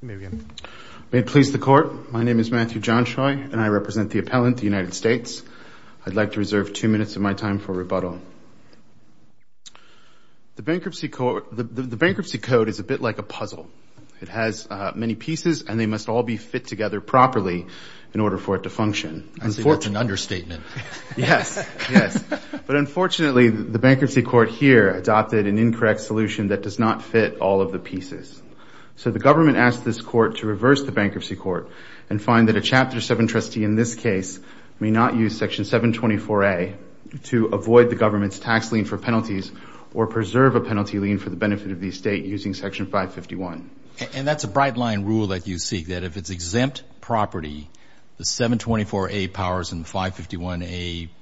May it please the Court, my name is Matthew Johnshoy and I represent the Appellant, the United States. I'd like to reserve two minutes of my time for rebuttal. The Bankruptcy Code is a bit like a puzzle. It has many pieces and they must all be fit together properly in order for it to function. That's an understatement. Yes, but unfortunately the Bankruptcy Court here adopted an incorrect solution that does not fit all of the pieces. So the government asked this Court to reverse the Bankruptcy Court and find that a Chapter 7 trustee in this case may not use Section 724A to avoid the government's tax lien for penalties or preserve a penalty lien for the benefit of the estate using Section 551. And that's a bright line rule that you seek, that if it's exempt property, the 724A powers and the 551A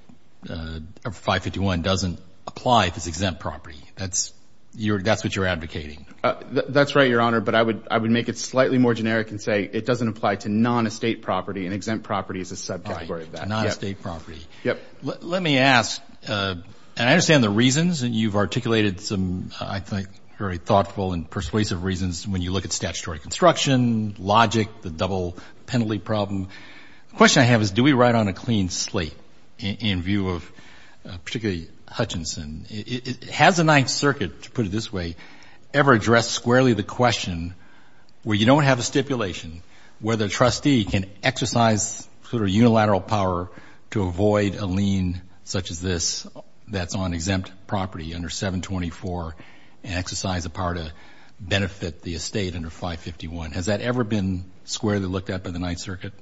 doesn't apply if it's exempt property. That's what you're advocating. That's right, Your Honor, but I would make it slightly more generic and say it doesn't apply to non-estate property and exempt property is a subcategory of that. Right, non-estate property. Yep. Let me ask and I understand the reasons and you've articulated some I think very thoughtful and persuasive reasons when you look at statutory construction, logic, the double penalty problem. The question I have is do we ride on a clean slate in view of particularly Hutchinson? Has the Ninth Circuit, to put it this way, ever addressed squarely the question where you don't have a stipulation where the trustee can exercise sort of unilateral power to avoid a lien such as this that's on exempt property under 724 and exercise the power to benefit the estate under 551? Has that ever been squarely looked at by the Ninth Circuit?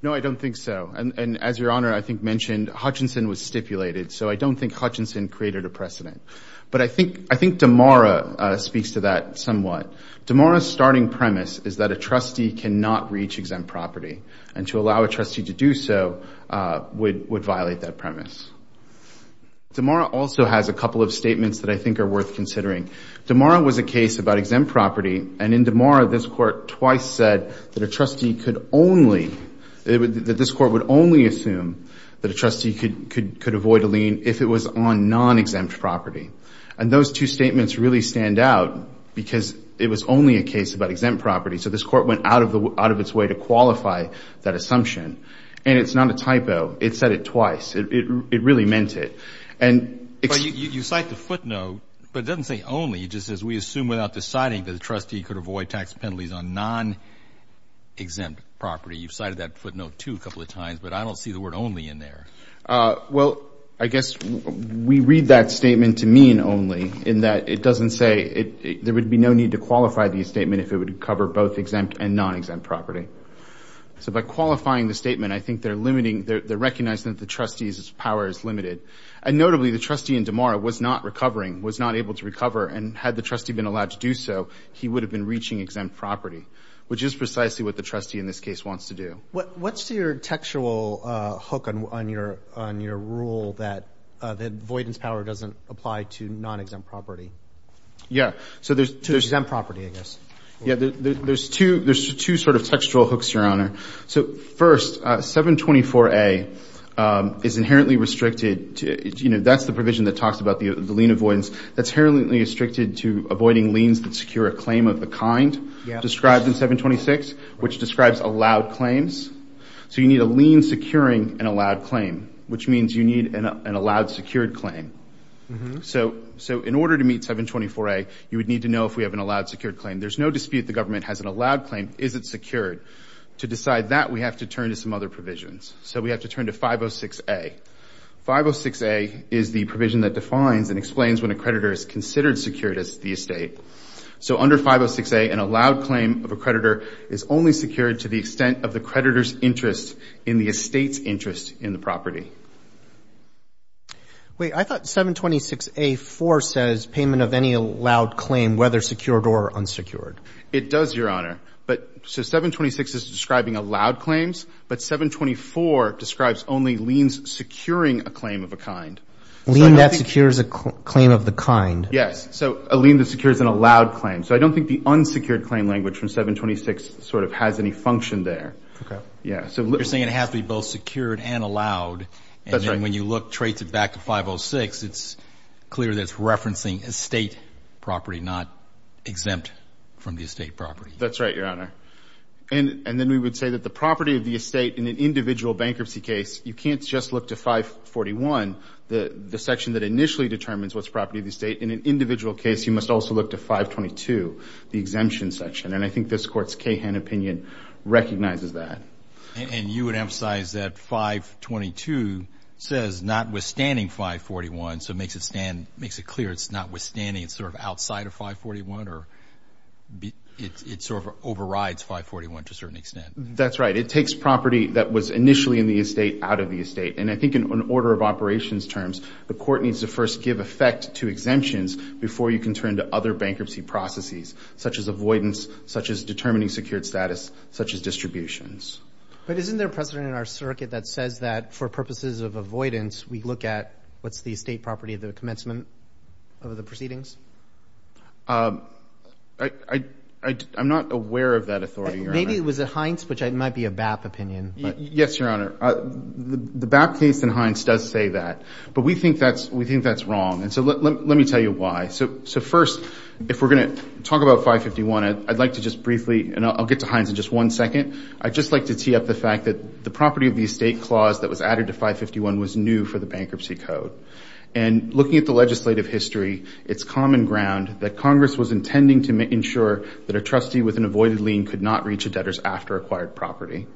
No, I don't think so, and as Your Honor I think mentioned, Hutchinson was stipulated, so I don't think Hutchinson created a precedent, but I think Damara speaks to that somewhat. Damara's starting premise is that a trustee cannot reach exempt property and to allow a trustee to do so would violate that premise. Damara also has a couple of statements that I think are worth considering. Damara was a case about exempt property and in Damara this Court twice said that a trustee could only, that this Court would only assume that a trustee could avoid a lien if it was on non-exempt property. And those two statements really stand out because it was only a case about exempt property, so this Court went out of its way to qualify that assumption. And it's not a typo. It said it twice. It really meant it. But you cite the footnote, but it doesn't say only, it just says we assume without deciding that a trustee could avoid tax penalties on non-exempt property. You've cited that footnote too a couple of times, but I don't see the word only in there. Well, I guess we read that statement to mean only in that it doesn't say there would be no need to qualify the statement if it would cover both exempt and non-exempt property. So by qualifying the statement I think they're limiting, they're recognizing that the trustee's power is limited. And notably, the trustee in Damara was not recovering, was not able to recover, and had the trustee been allowed to do so, he would have been reaching exempt property, which is precisely what the trustee in this case wants to do. What's your textual hook on your rule that avoidance power doesn't apply to non-exempt property? Yeah, so there's... To exempt property, I guess. Yeah, there's two sort of textual hooks, Your Honor. So first, 724A is inherently restricted to... That's the provision that talks about the lien avoidance. That's inherently restricted to avoiding liens that secure a claim of the kind described in 726, which describes allowed claims. So you need a lien securing an allowed claim, which means you need an allowed secured claim. So in order to meet 724A, you would need to know if we have an allowed secured claim. There's no dispute the government has an allowed claim. Is it secured? To decide that, we have to turn to some other provisions. So we have to turn to 506A. 506A is the provision that defines and explains when a creditor is considered secured as the estate. So under 506A, an allowed claim of a creditor is only secured to the extent of the creditor's interest in the estate's interest in the property. Wait, I thought 726A-4 says payment of any allowed claim, whether secured or unsecured. It does, Your Honor. But so 726 is describing allowed claims, but 724 describes only liens securing a claim of a kind. A lien that secures a claim of the kind. Yes. So a lien that secures an allowed claim. So I don't think the unsecured claim language from 726 sort of has any function there. Okay. Yeah. You're saying it has to be both secured and allowed. That's right. And then when you look, trace it back to 506, it's clear that it's referencing estate property, not exempt from the estate property. That's right, Your Honor. And then we would say that the property of the estate in an individual bankruptcy case, you can't just look to 541, the section that initially determines what's property of the estate. In an individual case, you must also look to 522, the exemption section. And I think this Court's Cahan opinion recognizes that. And you would emphasize that 522 says notwithstanding 541, so makes it clear it's notwithstanding, it's sort of outside of 541 or it sort of overrides 541 to a certain extent. That's right. It takes property that was initially in the estate out of the estate. And I think in order of operations terms, the Court needs to first give effect to exemptions before you can turn to other bankruptcy processes, such as avoidance, such as determining secured status, such as distributions. But isn't there precedent in our circuit that says that for purposes of avoidance, we look at what's the estate property of the commencement of the proceedings? I'm not aware of that authority, Your Honor. Maybe it was at Hines, which might be a BAP opinion. Yes, Your Honor. The BAP case in Hines does say that. But we think that's wrong. And so let me tell you why. So first, if we're going to talk about 551, I'd like to just briefly, and I'll get to Hines in just one second, I'd just like to tee up the fact that the property of the estate clause that was added to 551 was new for the Bankruptcy Code. And looking at the legislative history, it's common ground that Congress was intending to ensure that a trustee with an avoided lien could not reach a debtor's after-acquired property.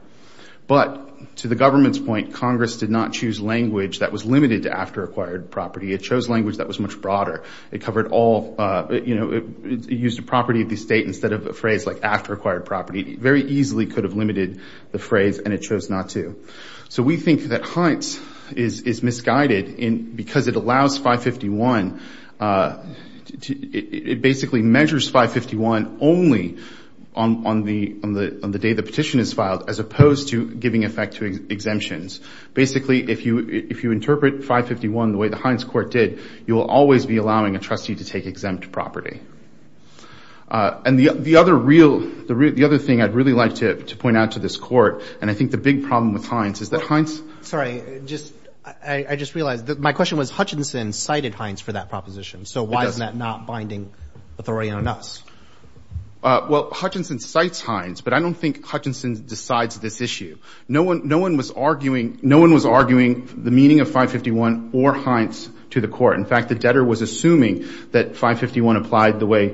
But to the government's point, Congress did not choose language that was limited to after-acquired property. It chose language that was much broader. It used the property of the estate instead of a phrase like after-acquired property. It very easily could have limited the phrase, and it chose not to. So we think that Hines is misguided because it allows 551, it basically measures 551 only on the day the petition is filed, as opposed to giving effect to exemptions. Basically, if you interpret 551 the way the Hines Court did, you will always be allowing a trustee to take exempt property. And the other real, the other thing I'd really like to point out to this Court, and I think the big problem with Hines is that Hines... Sorry, just, I just realized, my question was Hutchinson cited Hines for that proposition. So why is that not binding authority on us? Well, Hutchinson cites Hines, but I don't think Hutchinson decides this issue. No one was arguing, no one was arguing the meaning of 551 or Hines to the Court. In fact, the debtor was assuming that 551 applied the way,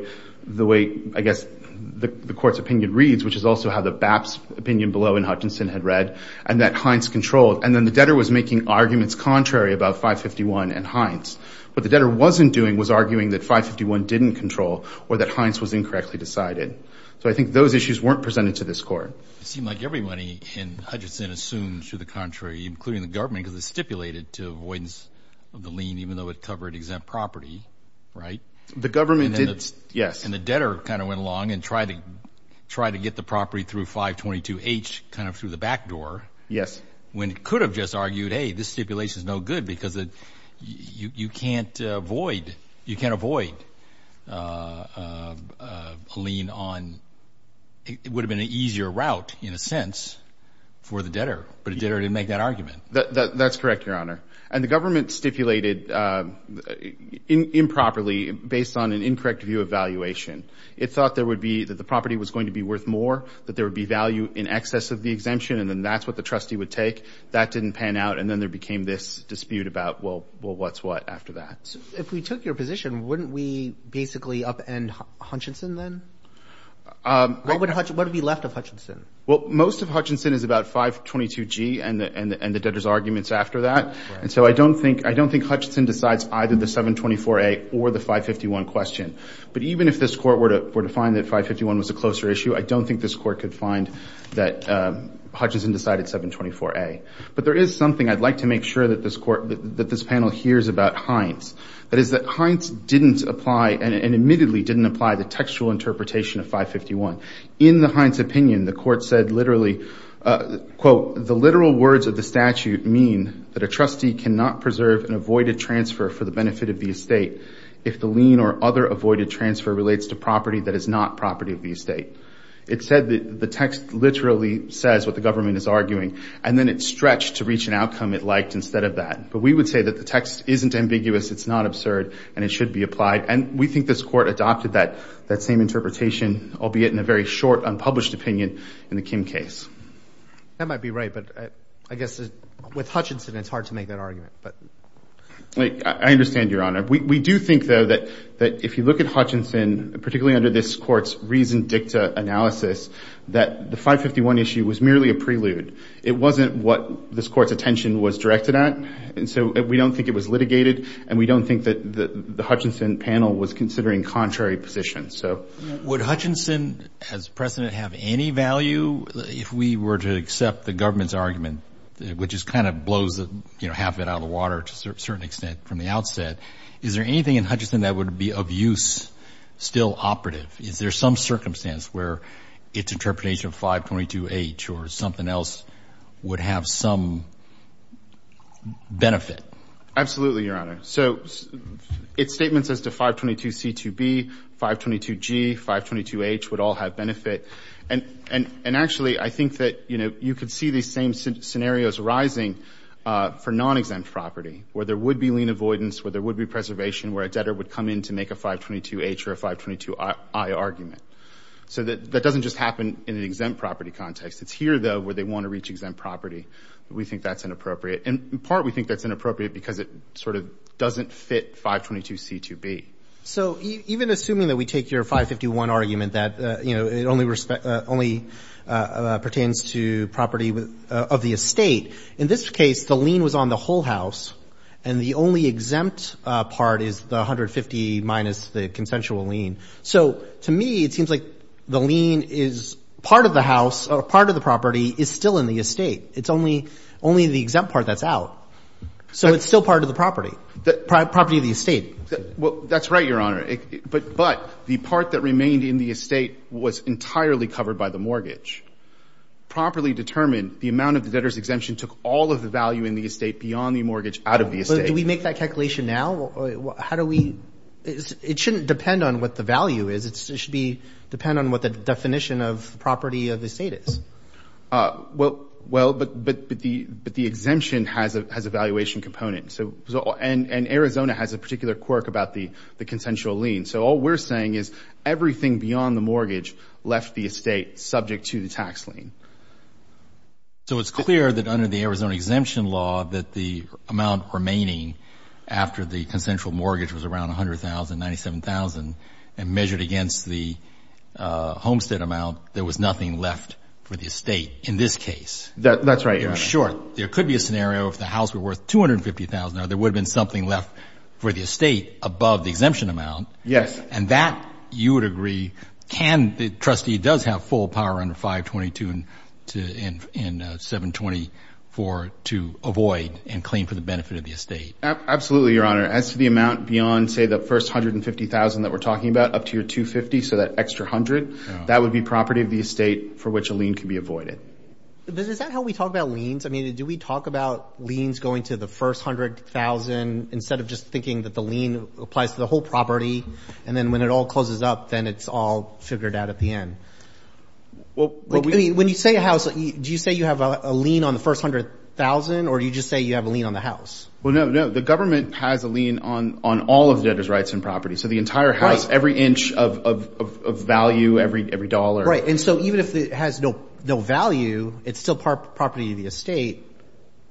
I guess, the Court's opinion reads, which is also how the BAPS opinion below in Hutchinson had read, and that Hines controlled. And then the debtor was making arguments contrary about 551 and Hines. What the debtor wasn't doing was arguing that 551 didn't control, or that Hines was incorrectly decided. So I think those issues weren't presented to this Court. It seemed like everybody in Hutchinson assumed to the contrary, including the government, because it stipulated to avoidance of the lien, even though it covered exempt property, right? The government did, yes. And the debtor kind of went along and tried to get the property through 522H, kind of through the back door. Yes. When it could have just argued, hey, this stipulation is no good because you can't avoid a lien on, it would have been an easier route, in a sense, for the debtor. But the debtor didn't make that argument. That's correct, Your Honor. And the government stipulated improperly, based on an incorrect view of valuation. It thought that the property was going to be worth more, that there would be value in excess of the exemption, and then that's what the trustee would take. That didn't pan out, and then there became this dispute about, well, what's what after that? So if we took your position, wouldn't we basically upend Hutchinson then? What would be left of Hutchinson? Well, most of Hutchinson is about 522G and the debtor's arguments after that, and so I don't think Hutchinson decides either the 724A or the 551 question. But even if this court were to find that 551 was a closer issue, I don't think this court could find that Hutchinson decided 724A. But there is something I'd like to make sure that this panel hears about Hines. That is that Hines didn't apply, and admittedly didn't apply, the textual interpretation of 551. In the Hines opinion, the court said literally, quote, the literal words of the statute mean that a trustee cannot preserve an avoided transfer for the benefit of the estate if the lien or other avoided transfer relates to property that is not property of the estate. It said that the text literally says what the government is arguing, and then it stretched to reach an outcome it liked instead of that. But we would say that the text isn't ambiguous, it's not absurd, and it should be applied. And we think this court adopted that same interpretation, albeit in a very short unpublished opinion, in the Kim case. That might be right, but I guess with Hutchinson it's hard to make that argument. But I understand, Your Honor. We do think, though, that if you look at Hutchinson, particularly under this court's reason dicta analysis, that the 551 issue was merely a prelude. It wasn't what this court's attention was directed at, and so we don't think it was Would Hutchinson as precedent have any value if we were to accept the government's argument, which just kind of blows half of it out of the water to a certain extent from the outset? Is there anything in Hutchinson that would be of use, still operative? Is there some circumstance where its interpretation of 522H or something else would have some benefit? Absolutely, Your Honor. So its statements as to 522C2B, 522G, 522H would all have benefit. And actually, I think that you could see these same scenarios arising for non-exempt property, where there would be lien avoidance, where there would be preservation, where a debtor would come in to make a 522H or a 522I argument. So that doesn't just happen in an exempt property context. It's here, though, where they want to reach exempt property. We think that's inappropriate. In part, we think that's inappropriate because it sort of doesn't fit 522C2B. So even assuming that we take your 551 argument that it only pertains to property of the estate, in this case, the lien was on the whole house, and the only exempt part is the 150 minus the consensual lien. So to me, it seems like the lien is part of the house or part of the property is still in the estate. It's only the exempt part that's out. So it's still part of the property, property of the estate. That's right, Your Honor. But the part that remained in the estate was entirely covered by the mortgage. Properly determined, the amount of the debtor's exemption took all of the value in the estate beyond the mortgage out of the estate. Do we make that calculation now? How do we? It shouldn't depend on what the value is. It should depend on what the definition of Well, but the exemption has a valuation component. And Arizona has a particular quirk about the consensual lien. So all we're saying is everything beyond the mortgage left the estate subject to the tax lien. So it's clear that under the Arizona exemption law that the amount remaining after the consensual mortgage was around $100,000, $97,000, and measured against the homestead amount, there was nothing left for the estate in this case. That's right, Your Honor. Sure. There could be a scenario if the house were worth $250,000, or there would have been something left for the estate above the exemption amount. Yes. And that, you would agree, can the trustee does have full power under 522 and 724 to avoid and claim for the benefit of the estate? Absolutely, Your Honor. As to the amount beyond, say, the first $150,000 that we're talking about, up to your $250,000, so that extra $100,000, that would be property of the estate for which a lien can be avoided. Is that how we talk about liens? I mean, do we talk about liens going to the first $100,000 instead of just thinking that the lien applies to the whole property, and then when it all closes up, then it's all figured out at the end? When you say a house, do you say you have a lien on the first $100,000, or do you just say you have a lien on the house? Well, no, no. The government has a lien on all of the debtor's rights and property. So the entire house, every inch of value, every dollar. Right, and so even if it has no value, it's still property of the estate,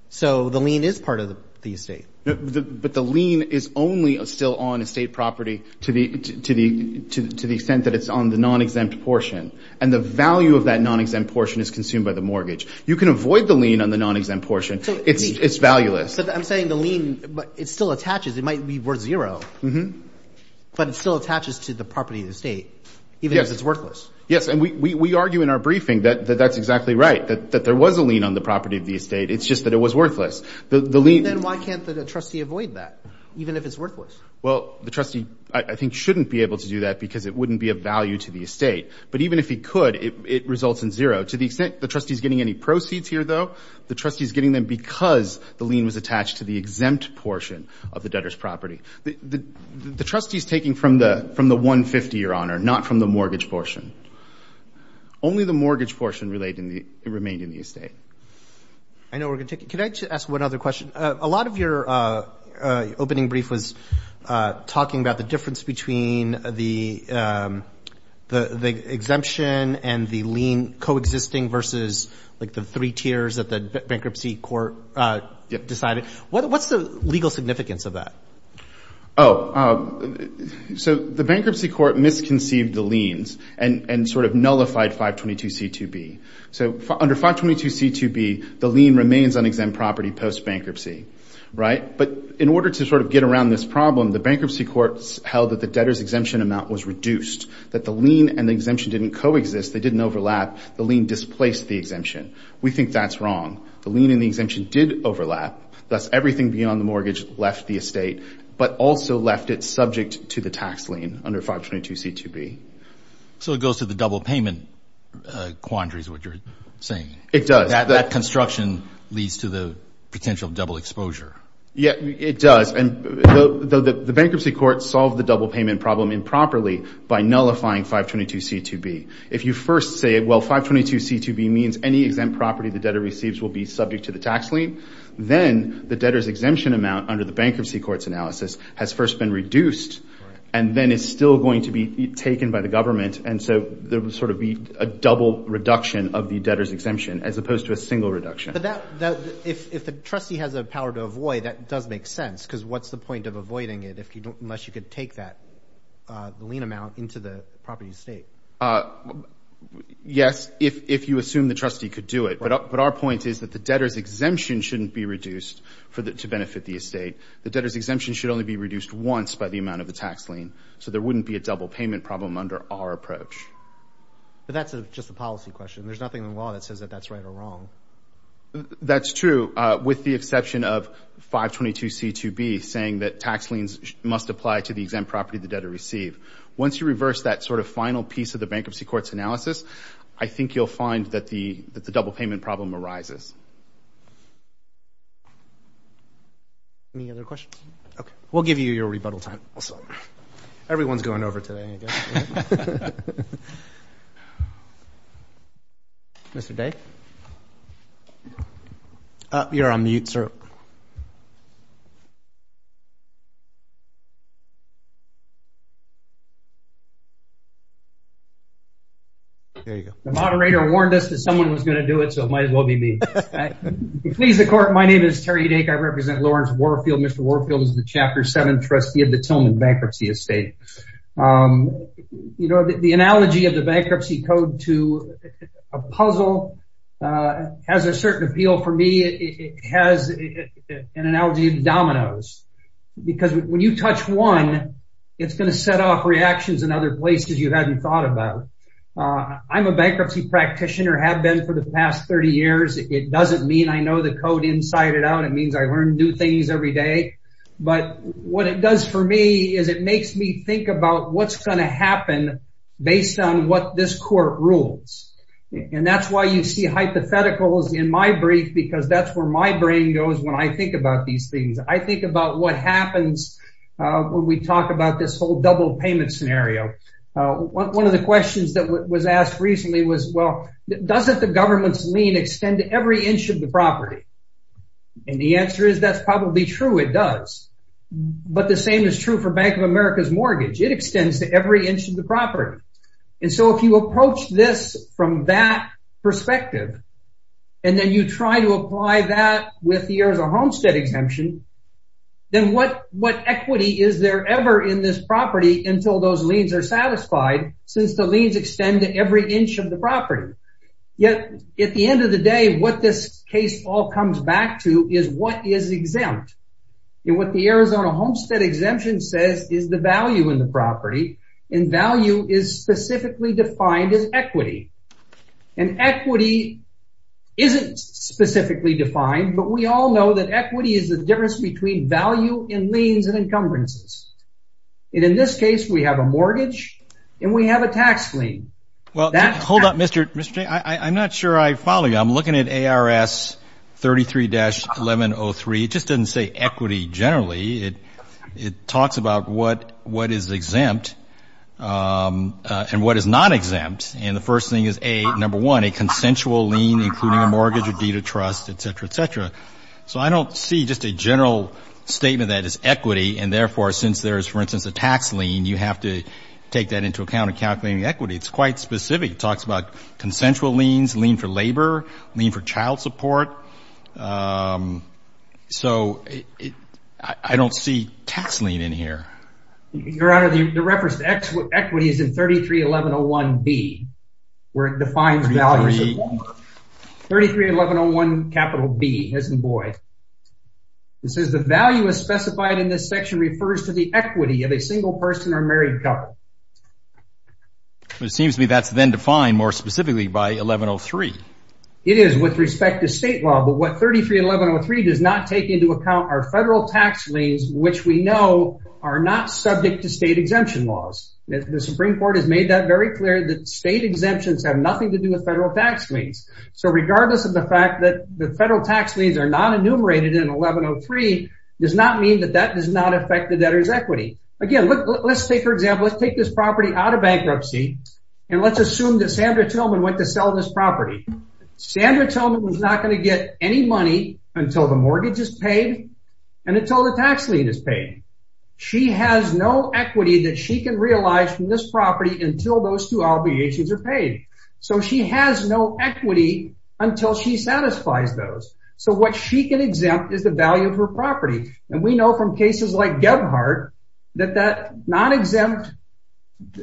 so the lien is part of the estate. But the lien is only still on estate property to the extent that it's on the non-exempt portion, and the value of that non-exempt portion is consumed by the mortgage. You can avoid the lien on the non-exempt portion. It's valueless. I'm saying the lien, it still attaches. It might be worth zero, but it still attaches to the property of the estate, even if it's worthless. Yes, and we argue in our briefing that that's exactly right, that there was a lien on the property of the estate. It's just that it was worthless. And then why can't the trustee avoid that, even if it's worthless? Well, the trustee, I think, shouldn't be able to do that because it wouldn't be of value to the estate. But even if he could, it results in zero. To the extent the trustee is getting any proceeds here, though, the trustee is getting them because the lien was attached to the exempt portion of the debtor's property. The trustee's taking from the 150, Your Honor, not from the mortgage portion. Only the mortgage portion remained in the estate. I know we're going to take it. Can I just ask one other question? A lot of your opening brief was talking about the difference between the exemption and the lien coexisting versus the three tiers that the bankruptcy court decided. What's the legal significance of that? Oh, so the bankruptcy court misconceived the liens and sort of nullified 522c2b. So under 522c2b, the lien remains on exempt property post-bankruptcy. But in order to sort of get around this problem, the bankruptcy court held that the debtor's exemption amount was reduced, that the lien and the exemption didn't coexist, they didn't overlap, the lien displaced the exemption. We think that's wrong. The lien and the exemption did overlap, thus everything beyond the mortgage left the estate, but also left it subject to the tax lien under 522c2b. So it goes to the double payment quandary is what you're saying. It does. That construction leads to the potential double exposure. Yeah, it does. And the bankruptcy court solved the double payment problem improperly by nullifying 522c2b. If you first say, well, 522c2b means any exempt property the debtor receives will be subject to the tax lien, then the debtor's exemption amount under the bankruptcy court's analysis has first been reduced, and then it's still going to be taken by the government. And so there will sort of be a double reduction of the debtor's exemption as opposed to a single reduction. But if the trustee has a power to avoid, that does make sense, because what's the point of the property estate? Yes, if you assume the trustee could do it. But our point is that the debtor's exemption shouldn't be reduced to benefit the estate. The debtor's exemption should only be reduced once by the amount of the tax lien. So there wouldn't be a double payment problem under our approach. But that's just a policy question. There's nothing in the law that says that that's right or wrong. That's true, with the exception of 522c2b, saying that tax liens must apply to the exempt property the debtor received. Once you reverse that sort of final piece of the bankruptcy court's analysis, I think you'll find that the double payment problem arises. Any other questions? Okay. We'll give you your rebuttal time. Everyone's going over today, I guess. You're on mute, sir. There you go. The moderator warned us that someone was going to do it, so it might as well be me. Please, the court, my name is Terry Dake. I represent Lawrence Warfield. Mr. Warfield is the Chapter 7 trustee of the Tillman Bankruptcy Estate. You know, the analogy of the bankruptcy code to a puzzle has a certain appeal for me. It has an analogy of dominoes. Because when you touch one, it's going to set off reactions in other places you hadn't thought about. I'm a bankruptcy practitioner, have been for the past 30 years. It doesn't mean I know the code inside and out. It means I learn new things every day. But what it does for me is it makes me think about what's going to happen based on what this court rules. And that's why you see hypotheticals in my brief, because that's where my brain goes when I think about these things. I think about what happens when we talk about this whole double payment scenario. One of the questions that was asked recently was, well, doesn't the government's lien extend to every inch of the property? And the answer is, that's probably true, it does. But the same is true for Bank of America's mortgage. It extends to every inch of the property. And so if you approach this from that then what equity is there ever in this property until those liens are satisfied, since the liens extend to every inch of the property. Yet at the end of the day, what this case all comes back to is what is exempt. And what the Arizona Homestead exemption says is the value in the property. And value is specifically defined as equity. And equity isn't specifically defined, but we all know that equity is the difference between value and liens and encumbrances. And in this case, we have a mortgage and we have a tax lien. Well, hold up, Mr. Jay. I'm not sure I follow you. I'm looking at ARS 33-1103. It just doesn't say equity generally. It talks about what is exempt and what is not exempt. And the first thing is A, number one, a consensual lien, including a mortgage or deed of trust, et cetera, et cetera. So I don't see just a general statement that is equity. And therefore, since there is, for instance, a tax lien, you have to take that into account in calculating equity. It's quite specific. It talks about consensual liens, lien for labor, lien for child support. So I don't see tax lien in here. Your Honor, the reference to equity is in 33-1101B, where it defines value. 33-1101B, isn't it, boy? It says the value is specified in this section refers to the equity of a single person or married couple. But it seems to me that's then defined more specifically by 1103. It is with respect to state law. But what 33-1103 does not take into account are federal tax liens, which we know are not subject to state exemption laws. The Supreme Court has made that very clear that state exemptions have nothing to do with federal tax liens. So regardless of the fact that the federal tax liens are not enumerated in 1103 does not mean that that does not affect the debtor's equity. Again, let's take, for example, let's take this property out of bankruptcy and let's assume that Sandra Tillman went to sell this property. Sandra Tillman was not going to get any money until the mortgage is paid and until the tax lien is paid. She has no equity that she can realize from this property until those two obligations are paid. So she has no equity until she satisfies those. So what she can exempt is the value of her property. And we know from cases like Gebhardt that that non-exempt,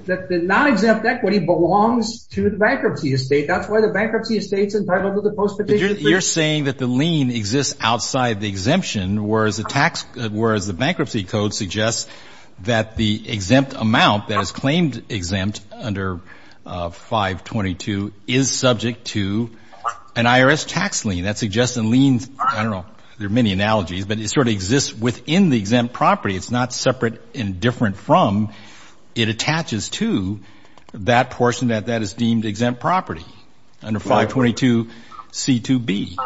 that the non-exempt equity belongs to the bankruptcy estate. That's why the bankruptcy estate's entitled to the post petition. You're saying that the lien exists outside the exemption, whereas the tax, whereas the bankruptcy code suggests that the exempt amount that is claimed exempt under 522 is subject to an IRS tax lien. That suggests a lien, I don't know, there are many analogies, but it sort of exists within the exempt property. It's not separate and different from, it attaches to that portion that is deemed exempt property under 522c2b.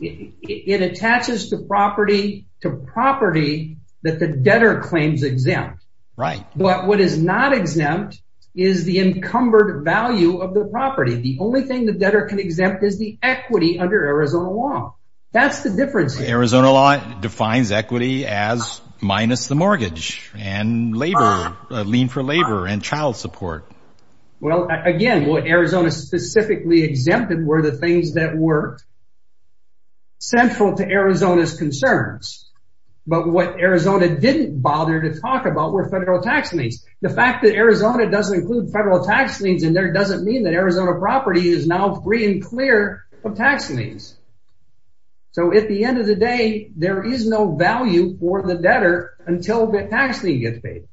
It attaches the property to property that the debtor claims exempt. Right. But what is not exempt is the encumbered value of the property. The only thing the debtor can exempt is the equity under Arizona law. That's the difference. Arizona law defines equity as minus the mortgage and labor, lien for labor and child support. Well, again, what Arizona specifically exempted were the things that were central to Arizona's concerns. But what Arizona didn't bother to talk about were federal tax liens. The fact that Arizona doesn't include federal tax liens in there doesn't mean that Arizona property is now free and clear of tax liens. So at the end of the day, there is no value for the debtor until the tax lien gets paid.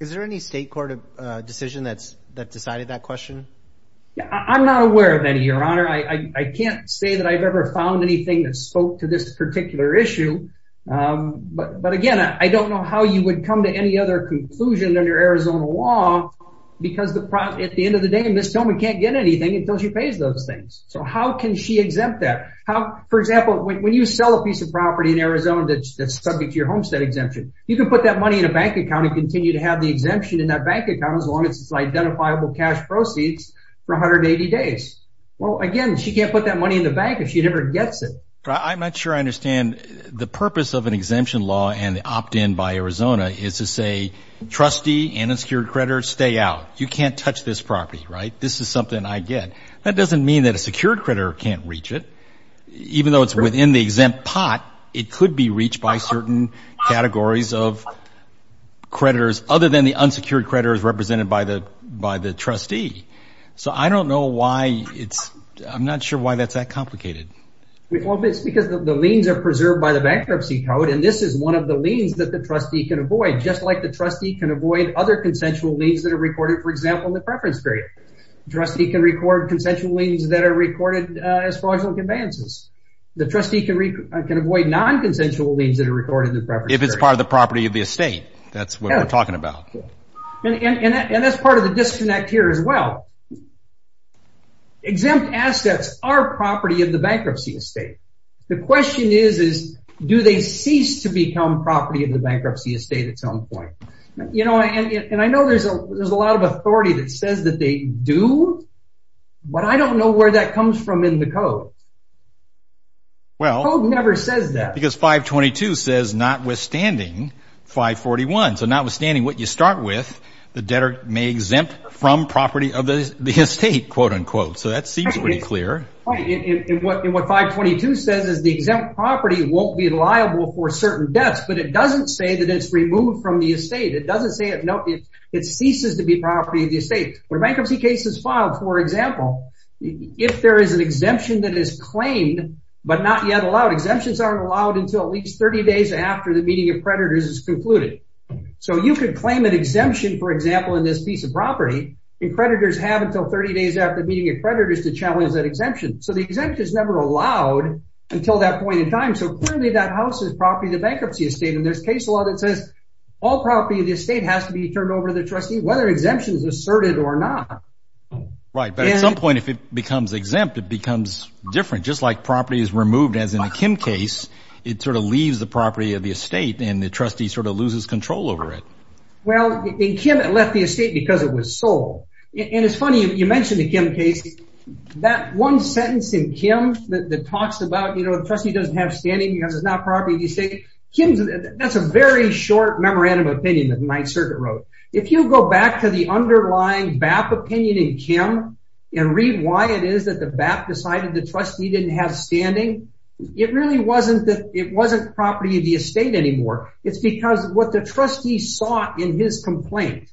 Is there any state court decision that's that decided that question? Yeah, I'm not aware of any, your honor. I can't say that I've ever found anything that spoke to this particular issue. But again, I don't know how you would come to any other conclusion under Arizona law, because at the end of the day, Ms. Tillman can't get anything until she pays those things. So how can she exempt that? How, for example, when you sell a piece of property in Arizona that's subject to your homestead exemption, you can put that money in a bank account and continue to have the exemption in that bank account as long as it's identifiable cash proceeds for 180 days. Well, again, she can't put that money in the bank if she never gets it. I'm not sure I understand the purpose of an exemption law and the opt-in by Arizona is to say, trustee and a secured creditor, stay out. You can't touch this property, right? This is something I get. That doesn't mean that a secured creditor can't reach it. Even though it's within the exempt pot, it could be reached by certain categories of creditors other than the unsecured creditors represented by the trustee. So I don't know why it's, I'm not sure why that's that complicated. It's because the liens are preserved by the bankruptcy code. And this is one of the liens that the trustee can avoid, just like the trustee can avoid other consensual liens that are recorded, for example, in the preference period. Trustee can record consensual liens that are recorded as fraudulent conveyances. The trustee can avoid non-consensual liens that are recorded in the preference period. If it's part of the property of the estate, that's what we're talking about. And that's part of the disconnect here as well. Exempt assets are property of the bankruptcy estate. The question is, do they cease to become property of the bankruptcy estate at some point? And I know there's a lot of authority that says they do, but I don't know where that comes from in the code. The code never says that. Because 522 says, notwithstanding 541. So notwithstanding what you start with, the debtor may exempt from property of the estate, quote unquote. So that seems pretty clear. And what 522 says is the exempt property won't be liable for certain debts, but it doesn't say that it's removed from the estate. It doesn't say, nope, it ceases to be property of the estate. When a bankruptcy case is filed, for example, if there is an exemption that is claimed, but not yet allowed, exemptions aren't allowed until at least 30 days after the meeting of creditors is concluded. So you could claim an exemption, for example, in this piece of property, and creditors have until 30 days after the meeting of creditors to challenge that exemption. So the exemption is never allowed until that point in time. So clearly that house is property of the bankruptcy estate. And there's case law that says all property of the estate has to be asserted or not. Right. But at some point, if it becomes exempt, it becomes different. Just like property is removed, as in the Kim case, it sort of leaves the property of the estate and the trustee sort of loses control over it. Well, in Kim, it left the estate because it was sold. And it's funny, you mentioned the Kim case, that one sentence in Kim that talks about, you know, the trustee doesn't have standing because it's not property of the estate. That's a very short memorandum of opinion that the Ninth Circuit wrote. If you go back to the underlying BAP opinion in Kim and read why it is that the BAP decided the trustee didn't have standing, it really wasn't that it wasn't property of the estate anymore. It's because what the trustee saw in his complaint,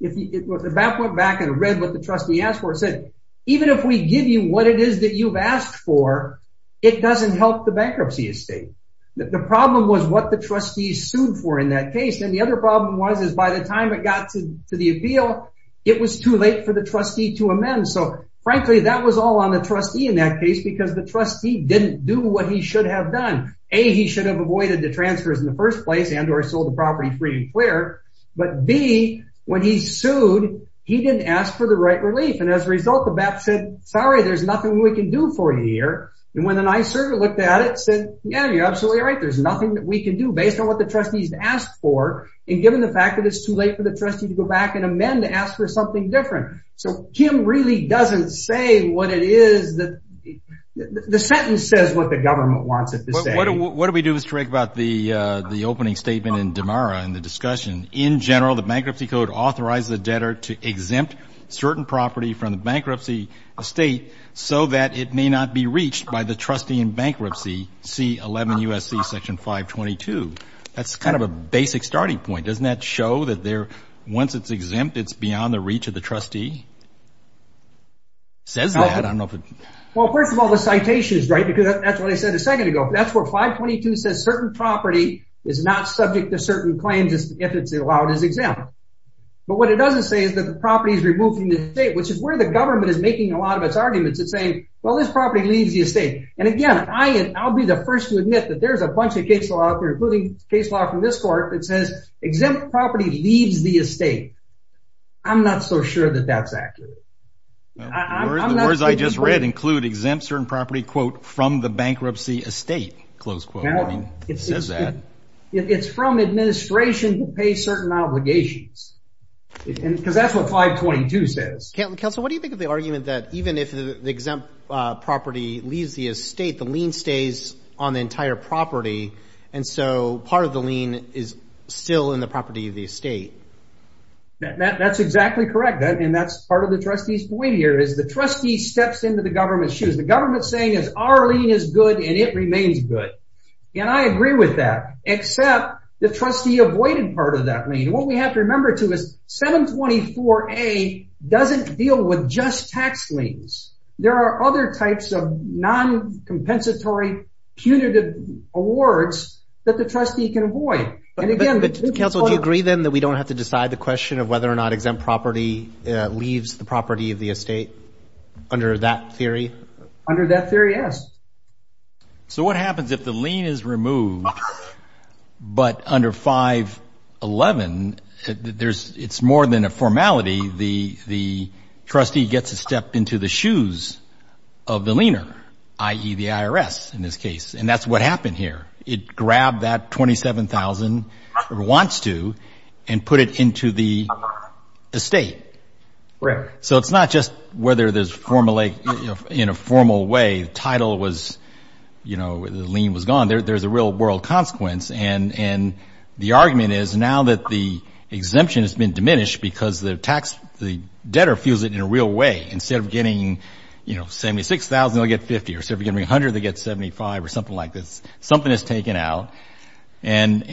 if the BAP went back and read what the trustee asked for, it said, even if we give you what it is that you've asked for, it doesn't help the bankruptcy estate. The problem was what the trustee sued for in that case. And the other problem was, is by the time it got to the appeal, it was too late for the trustee to amend. So frankly, that was all on the trustee in that case, because the trustee didn't do what he should have done. A, he should have avoided the transfers in the first place and or sold the property free and clear. But B, when he sued, he didn't ask for the right relief. And as a result, the BAP said, sorry, there's nothing we can do for And when the NYSERDA looked at it, said, yeah, you're absolutely right. There's nothing that we can do based on what the trustees asked for. And given the fact that it's too late for the trustee to go back and amend, to ask for something different. So Kim really doesn't say what it is that the sentence says, what the government wants it to say. What do we do is correct about the opening statement in Damara and the discussion. In general, the bankruptcy code authorized the exempt certain property from the bankruptcy estate so that it may not be reached by the trustee in bankruptcy. C11 USC section 522. That's kind of a basic starting point. Doesn't that show that there, once it's exempt, it's beyond the reach of the trustee? Says that, I don't know. Well, first of all, the citations, right? Because that's what I said a second ago. That's where 522 says certain property is not subject to certain claims if it's allowed as exempt. But what it doesn't say is that the property is removed from the estate, which is where the government is making a lot of its arguments. It's saying, well, this property leaves the estate. And again, I'll be the first to admit that there's a bunch of case law out there, including case law from this court, that says exempt property leaves the estate. I'm not so sure that that's accurate. The words I just read include exempt certain property, quote, from the bankruptcy estate, close quote. I mean, it says that. It's from administration to pay certain obligations. Because that's what 522 says. Counsel, what do you think of the argument that even if the exempt property leaves the estate, the lien stays on the entire property, and so part of the lien is still in the property of the estate? That's exactly correct. And that's part of the trustee's point here, is the trustee steps into the government's shoes. The government's saying is our lien is good and it remains good. And I accept the trustee avoided part of that lien. What we have to remember, too, is 724A doesn't deal with just tax liens. There are other types of non-compensatory punitive awards that the trustee can avoid. Counsel, do you agree, then, that we don't have to decide the question of whether or not exempt property leaves the property of the estate under that theory? Under that theory, yes. So what happens if the lien is removed, but under 511, it's more than a formality. The trustee gets to step into the shoes of the liener, i.e., the IRS, in this case. And that's what happened here. It grabbed that 27,000, or wants to, and put it into the estate. So it's not just whether there's, in a formal way, the title was, you know, the lien was gone. There's a real-world consequence. And the argument is now that the exemption has been diminished because the tax, the debtor feels it in a real way. Instead of getting, you know, 76,000, they'll get 50. Or instead of getting 100, they get 75, or something like this. Something is taken out. And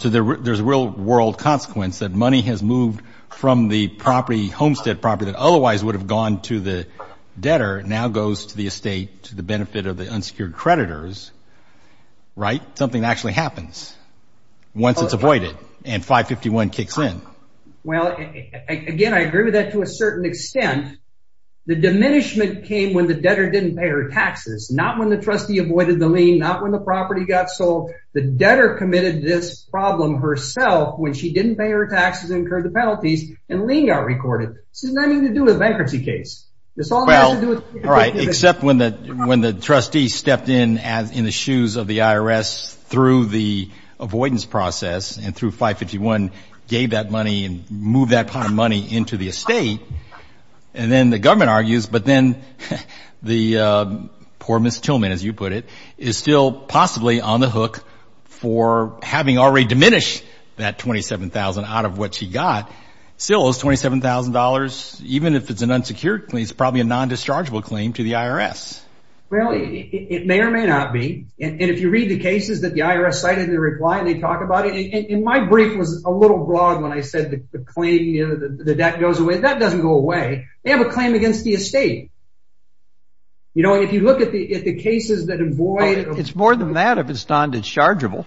so there's a real-world consequence that money has moved from the property, homestead property, that otherwise would have gone to the debtor, now goes to the estate to the benefit of the unsecured creditors, right? Something actually happens once it's avoided and 551 kicks in. Well, again, I agree with that to a certain extent. The diminishment came when the debtor didn't pay her taxes, not when the trustee avoided the lien, not when the property got sold. The debtor committed this problem herself when she didn't pay her taxes, incurred the penalties, and lien got recorded. This has nothing to do with a bankruptcy case. This all has to do with... Well, all right, except when the trustee stepped in, in the shoes of the IRS, through the avoidance process and through 551, gave that money and moved that pot of money into the estate. And then the government argues, but then the poor Ms. Tillman, as you put it, is still possibly on the hook for having already diminished that $27,000 out of what she got. Still, those $27,000, even if it's an unsecured claim, it's probably a non-dischargeable claim to the IRS. Well, it may or may not be. And if you read the cases that the IRS cited in their reply and they talk about it, and my brief was a little broad when I said the claim, the debt goes away, that doesn't go away. They have a claim against the estate. If you look at the cases that avoid... It's more than that if it's non-dischargeable.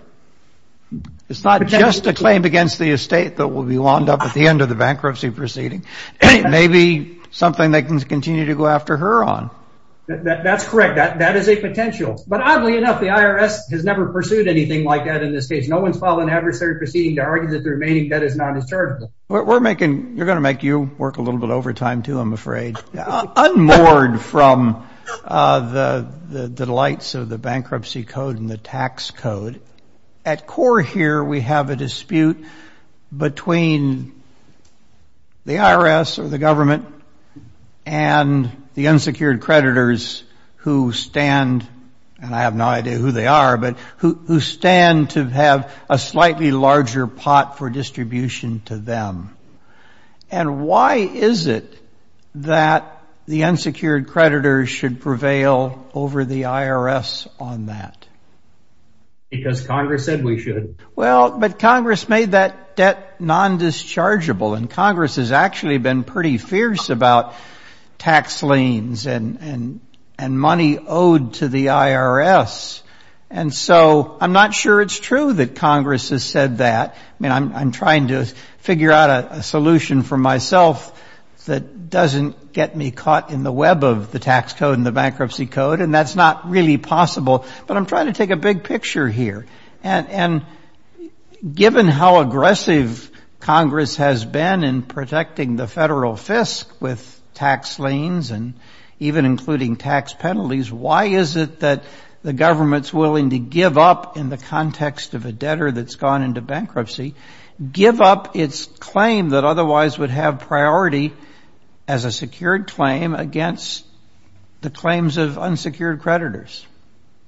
It's not just a claim against the estate that will be wound up at the end of the bankruptcy proceeding. It may be something they can continue to go after her on. That's correct. That is a potential. But oddly enough, the IRS has never pursued anything like that in this case. No one's filed an adversary proceeding to argue that the remaining debt is non-dischargeable. We're making... You're going to make you work a little bit overtime too, I'm afraid. Unmoored from the delights of the bankruptcy code and the tax code, at core here we have a dispute between the IRS or the government and the unsecured creditors who stand, and I have no idea who they are, but who stand to have a slightly larger pot for distribution to them. And why is it that the unsecured creditors should prevail over the IRS on that? Because Congress said we should. Well, but Congress made that debt non-dischargeable, and Congress has actually been pretty fierce about tax liens and money owed to the IRS. And so I'm not sure it's true that Congress has said that. I mean, I'm trying to figure out a solution for myself that doesn't get me caught in the web of the tax code and the bankruptcy code, and that's not really possible, but I'm trying to take a big picture here. And given how aggressive Congress has been in protecting the federal fisc with tax liens and even including tax penalties, why is it that the government's willing to give up, in the context of a debtor that's gone into bankruptcy, give up its claim that otherwise would have priority as a secured claim against the claims of unsecured creditors?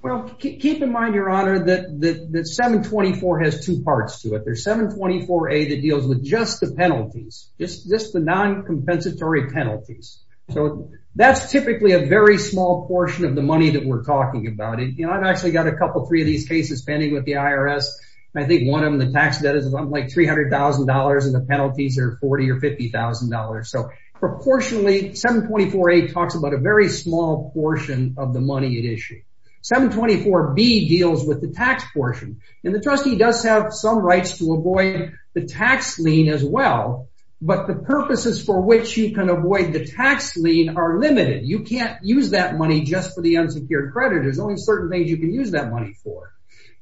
Well, keep in mind, Your Honor, that 724 has two parts to it. There's 724A that deals with just the penalties, just the non-compensatory penalties. So that's typically a very small portion of the money that we're talking about. You know, I've actually got a couple, three of these cases pending with the IRS, and I think one of them, the tax debt is like $300,000, and the penalties are $40,000 or $50,000. So proportionally, 724A talks about a very small portion of the money at issue. 724B deals with the tax portion, and the trustee does have some rights to avoid the tax lien as well, but the purposes for which you can avoid the tax lien are limited. You can't use that money just for the unsecured credit, there's only certain things you can use that money for.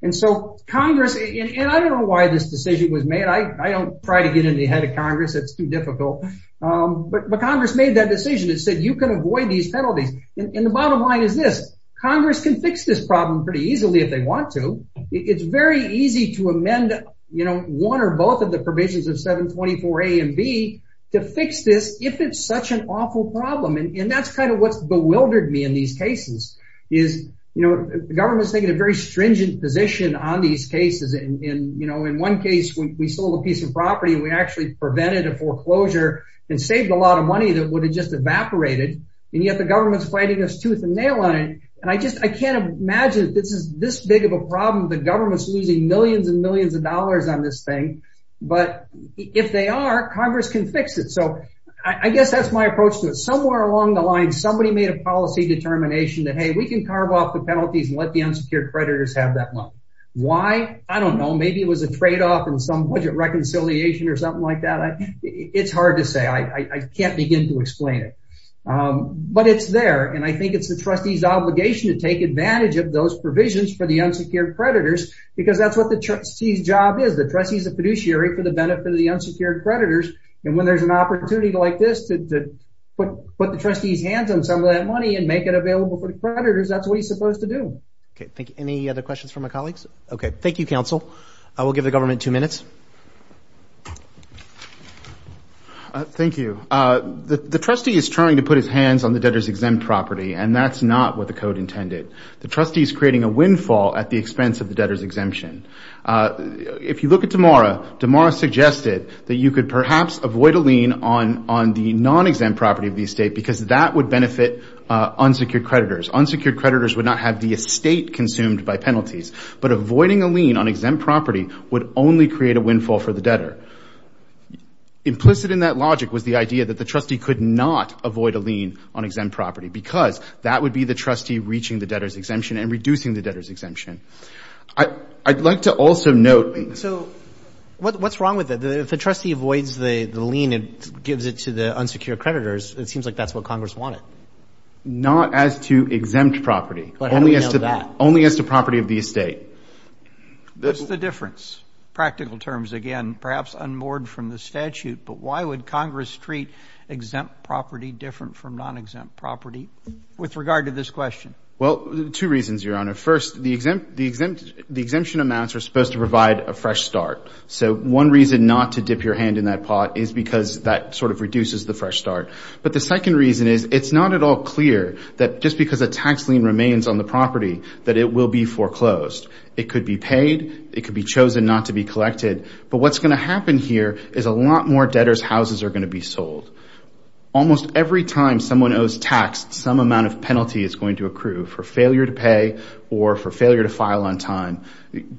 And so Congress, and I don't know why this decision was made, I don't try to get in the head of Congress, it's too difficult, but Congress made that decision, it said you can avoid these penalties. And the bottom line is this, Congress can fix this problem pretty easily if they want to. It's very easy to amend, you know, one or both of the provisions of 724A and B to fix this if it's such an awful problem. And that's kind of what's bewildered me in these cases, is, you know, the government's taking a very stringent position on these cases. And, you know, in one case, when we sold a piece of property, we actually prevented a foreclosure and saved a lot of money that would have just evaporated. And yet the government's fighting us tooth and nail on it. And I just, I can't imagine this is this big of a thing. But if they are, Congress can fix it. So I guess that's my approach to it. Somewhere along the line, somebody made a policy determination that, hey, we can carve off the penalties and let the unsecured creditors have that money. Why? I don't know, maybe it was a trade off in some budget reconciliation or something like that. It's hard to say, I can't begin to explain it. But it's there. And I think it's the trustees obligation to take advantage of those provisions for the unsecured creditors, because that's what the trustee's job is. The trustee's a fiduciary for the benefit of the unsecured creditors. And when there's an opportunity like this to put the trustee's hands on some of that money and make it available for the creditors, that's what he's supposed to do. Okay, thank you. Any other questions from my colleagues? Okay, thank you, counsel. I will give the government two minutes. Thank you. The trustee is trying to put his hands on the debtor's exempt property, and that's not what the code intended. The trustee is creating a windfall at the expense of the debtor's exemption. If you look at Damara, Damara suggested that you could perhaps avoid a lien on the non-exempt property of the estate because that would benefit unsecured creditors. Unsecured creditors would not have the estate consumed by penalties. But avoiding a lien on exempt property would only create a windfall for the debtor. Implicit in that logic was the idea that the trustee could not avoid a lien on exempt property because that would be the trustee reaching the debtor's exemption and reducing the debtor's exemption. I'd like to also note... So what's wrong with it? If the trustee avoids the lien and gives it to the unsecured creditors, it seems like that's what Congress wanted. Not as to exempt property. But how do we know that? Only as to property of the estate. What's the difference? Practical terms, again, perhaps unmoored from the statute, but why would Congress treat exempt property different from non-exempt property with regard to this question? Well, two reasons, Your Honor. First, the exemption amounts are supposed to provide a fresh start. So one reason not to dip your hand in that pot is because that sort of reduces the fresh start. But the second reason is it's not at all clear that just because a tax lien remains on the property that it will be foreclosed. It could be paid. It could be chosen not to be collected. But what's going to happen here is a lot more debtor's houses are going to be sold. Almost every time someone owes tax, some amount of penalty is going to accrue for failure to pay or for failure to file on time.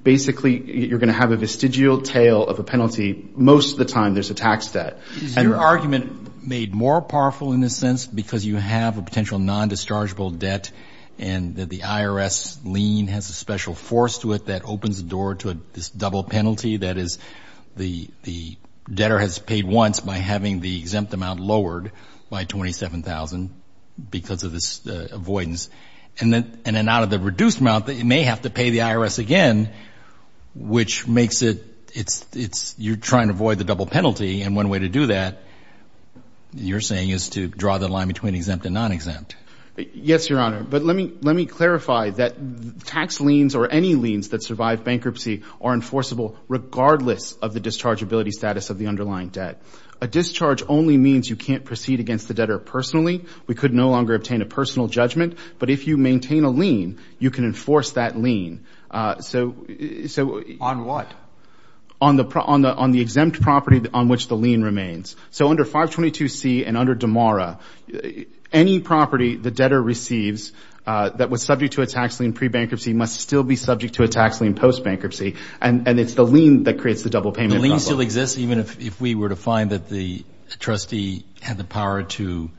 Basically, you're going to have a vestigial tail of a penalty. Most of the time there's a tax debt. Is your argument made more powerful in this sense because you have a potential non-dischargeable debt and that the IRS lien has a special force to it that opens the door to this double penalty that the debtor has paid once by having the exempt amount lowered by $27,000 because of this avoidance and then out of the reduced amount, they may have to pay the IRS again, which makes it, you're trying to avoid the double penalty. And one way to do that, you're saying is to draw the line between exempt and non-exempt. Yes, Your Honor. But let me clarify that tax liens or any liens that survive bankruptcy are enforceable regardless of the dischargeability status of the underlying debt. A discharge only means you can't proceed against the debtor personally. We could no longer obtain a personal judgment. But if you maintain a lien, you can enforce that lien. On what? On the exempt property on which the lien remains. So under 522C and under Damara, any property the debtor receives that was subject to a tax lien pre-bankruptcy must still be subject to a tax lien post-bankruptcy. And it's the lien that creates the double payment. The lien still exists even if we were to find that the trustee had the power to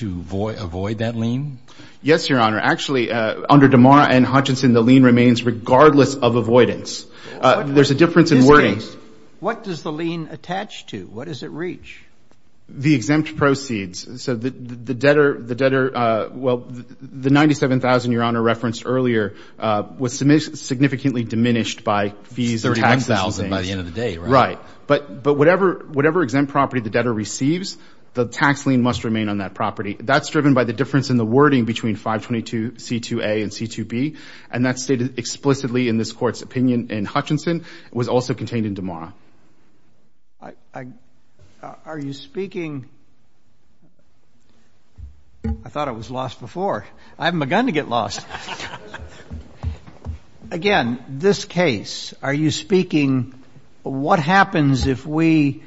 avoid that lien? Yes, Your Honor. Actually, under Damara and Hutchinson, the lien remains regardless of avoidance. There's a difference in wording. What does the lien attach to? What does it reach? The exempt proceeds. So the debtor, well, the 97,000, Your Honor referenced earlier, was significantly diminished by fees and tax liens. By the end of the day, right? Right. But whatever exempt property the debtor receives, the tax lien must remain on that property. That's driven by the difference in the wording between 522C2A and 522C2B. And that's stated explicitly in this Court's opinion in Hutchinson. It was also contained in Damara. Are you speaking... I thought it was lost before. I haven't begun to get lost. Again, this case, are you speaking, what happens if we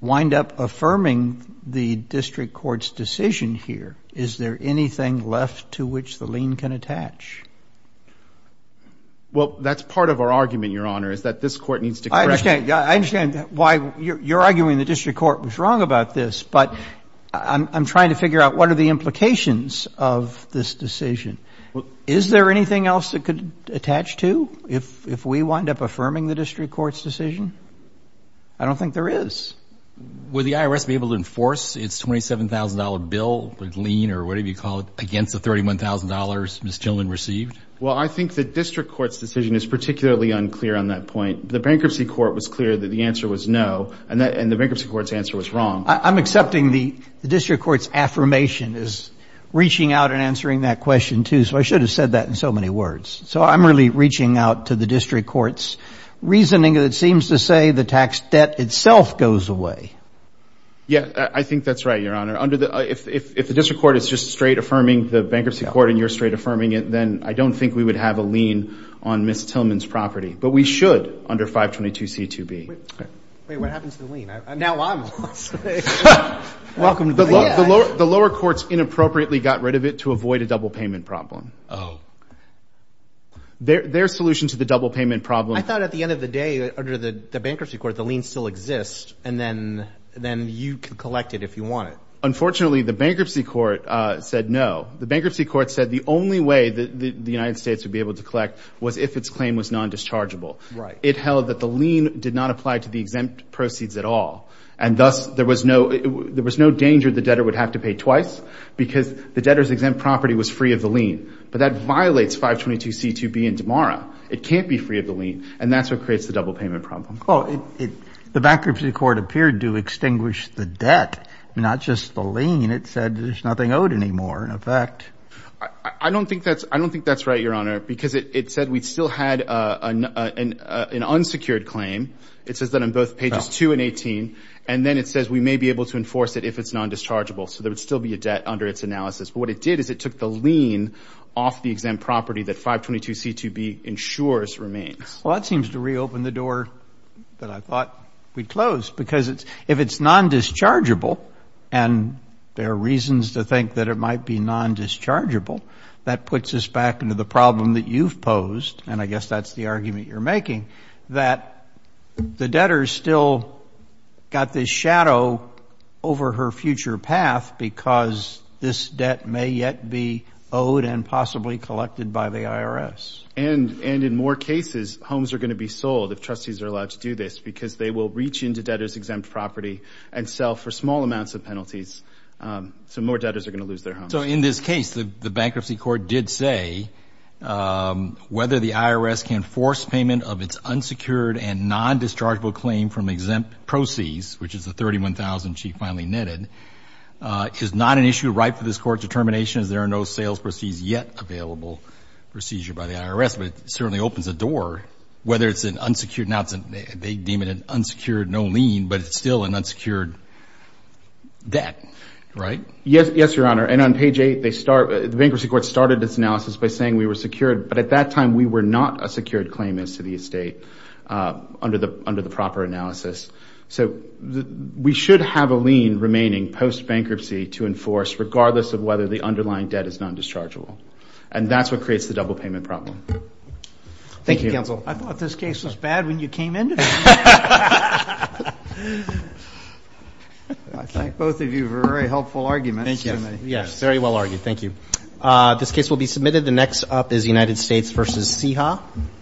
wind up affirming the district court's decision here? Is there anything left to which the lien can attach? Well, that's part of our argument, Your Honor, is that this court needs to correct... I understand why you're arguing the district court was wrong about this, but I'm trying to figure out what are the implications of this decision. Is there anything else it could attach to if we wind up affirming the district court's decision? I don't think there is. Would the IRS be able to enforce its $27,000 bill, lien or whatever you call it, against the $31,000 this gentleman received? Well, I think the district court's decision is particularly unclear on that point. The bankruptcy court was clear that the answer was no, and the bankruptcy court's answer was wrong. I'm accepting the district court's affirmation as reaching out and answering that question too, so I should have said that in so many words. So I'm really reaching out to the district court's reasoning that it seems to say the tax debt itself goes away. Yeah, I think that's right, Your Honor. If the district court is just straight affirming the bankruptcy court and you're straight affirming it, then I don't think we would have a lien on Ms. Tillman's property, but we should under 522C2B. Wait, what happened to the lien? Now I'm lost. The lower courts inappropriately got rid of it to avoid a double payment problem. Their solution to the double payment problem... I thought at the end of the day, under the bankruptcy court, the lien still exists and then you can collect it if you want it. Unfortunately, the bankruptcy court said no. The bankruptcy court said the only way that the United States would be able to collect was if its claim was non-dischargeable. It held that the lien did not apply to the exempt proceeds at all, and thus there was no danger the debtor would have to pay twice because the debtor's exempt property was free of the lien. But that violates 522C2B in Damara. It can't be free of the lien, and that's what creates the double payment problem. The bankruptcy court appeared to extinguish the debt, not just the lien. It said there's nothing owed anymore, in effect. I don't think that's right, Your Honor, because it said we still had an unsecured claim. It says that on both pages 2 and 18, and then it says we may be able to enforce it if it's non-dischargeable, so there would still be a debt under its analysis. But what it did is it took the lien off the exempt property that 522C2B ensures remains. Well, that seems to reopen the door that I thought we'd close, because if it's non-dischargeable and there are reasons to think that it might be non-dischargeable, that puts us back into the problem that you've posed, and I guess that's the argument you're making, that the debtor's still got this shadow over her future path because this debt may yet be owed and possibly collected by the IRS. And in more cases, homes are going to be sold if trustees are allowed to do this, because they will reach into debtors' exempt property and sell for small amounts of penalties, so more debtors are going to lose their homes. So in this case, the Bankruptcy Court did say whether the IRS can force payment of its unsecured and non-dischargeable claim from exempt proceeds, which is the 31,000 she finally netted, is not an issue ripe for this Court's determination as there are no sales yet available for seizure by the IRS, but it certainly opens a door, whether it's an unsecured, now they deem it an unsecured no lien, but it's still an unsecured debt, right? Yes, Your Honor. And on page eight, the Bankruptcy Court started this analysis by saying we were secured, but at that time we were not a secured claimant to the estate under the proper analysis. So we should have a lien remaining post-bankruptcy to enforce, regardless of whether the underlying debt is non-dischargeable. And that's what creates the double payment problem. Thank you, counsel. I thought this case was bad when you came into it. I think both of you have a very helpful argument. Thank you. Yes, very well argued. Thank you. This case will be submitted. The next up is United States v. CIHA.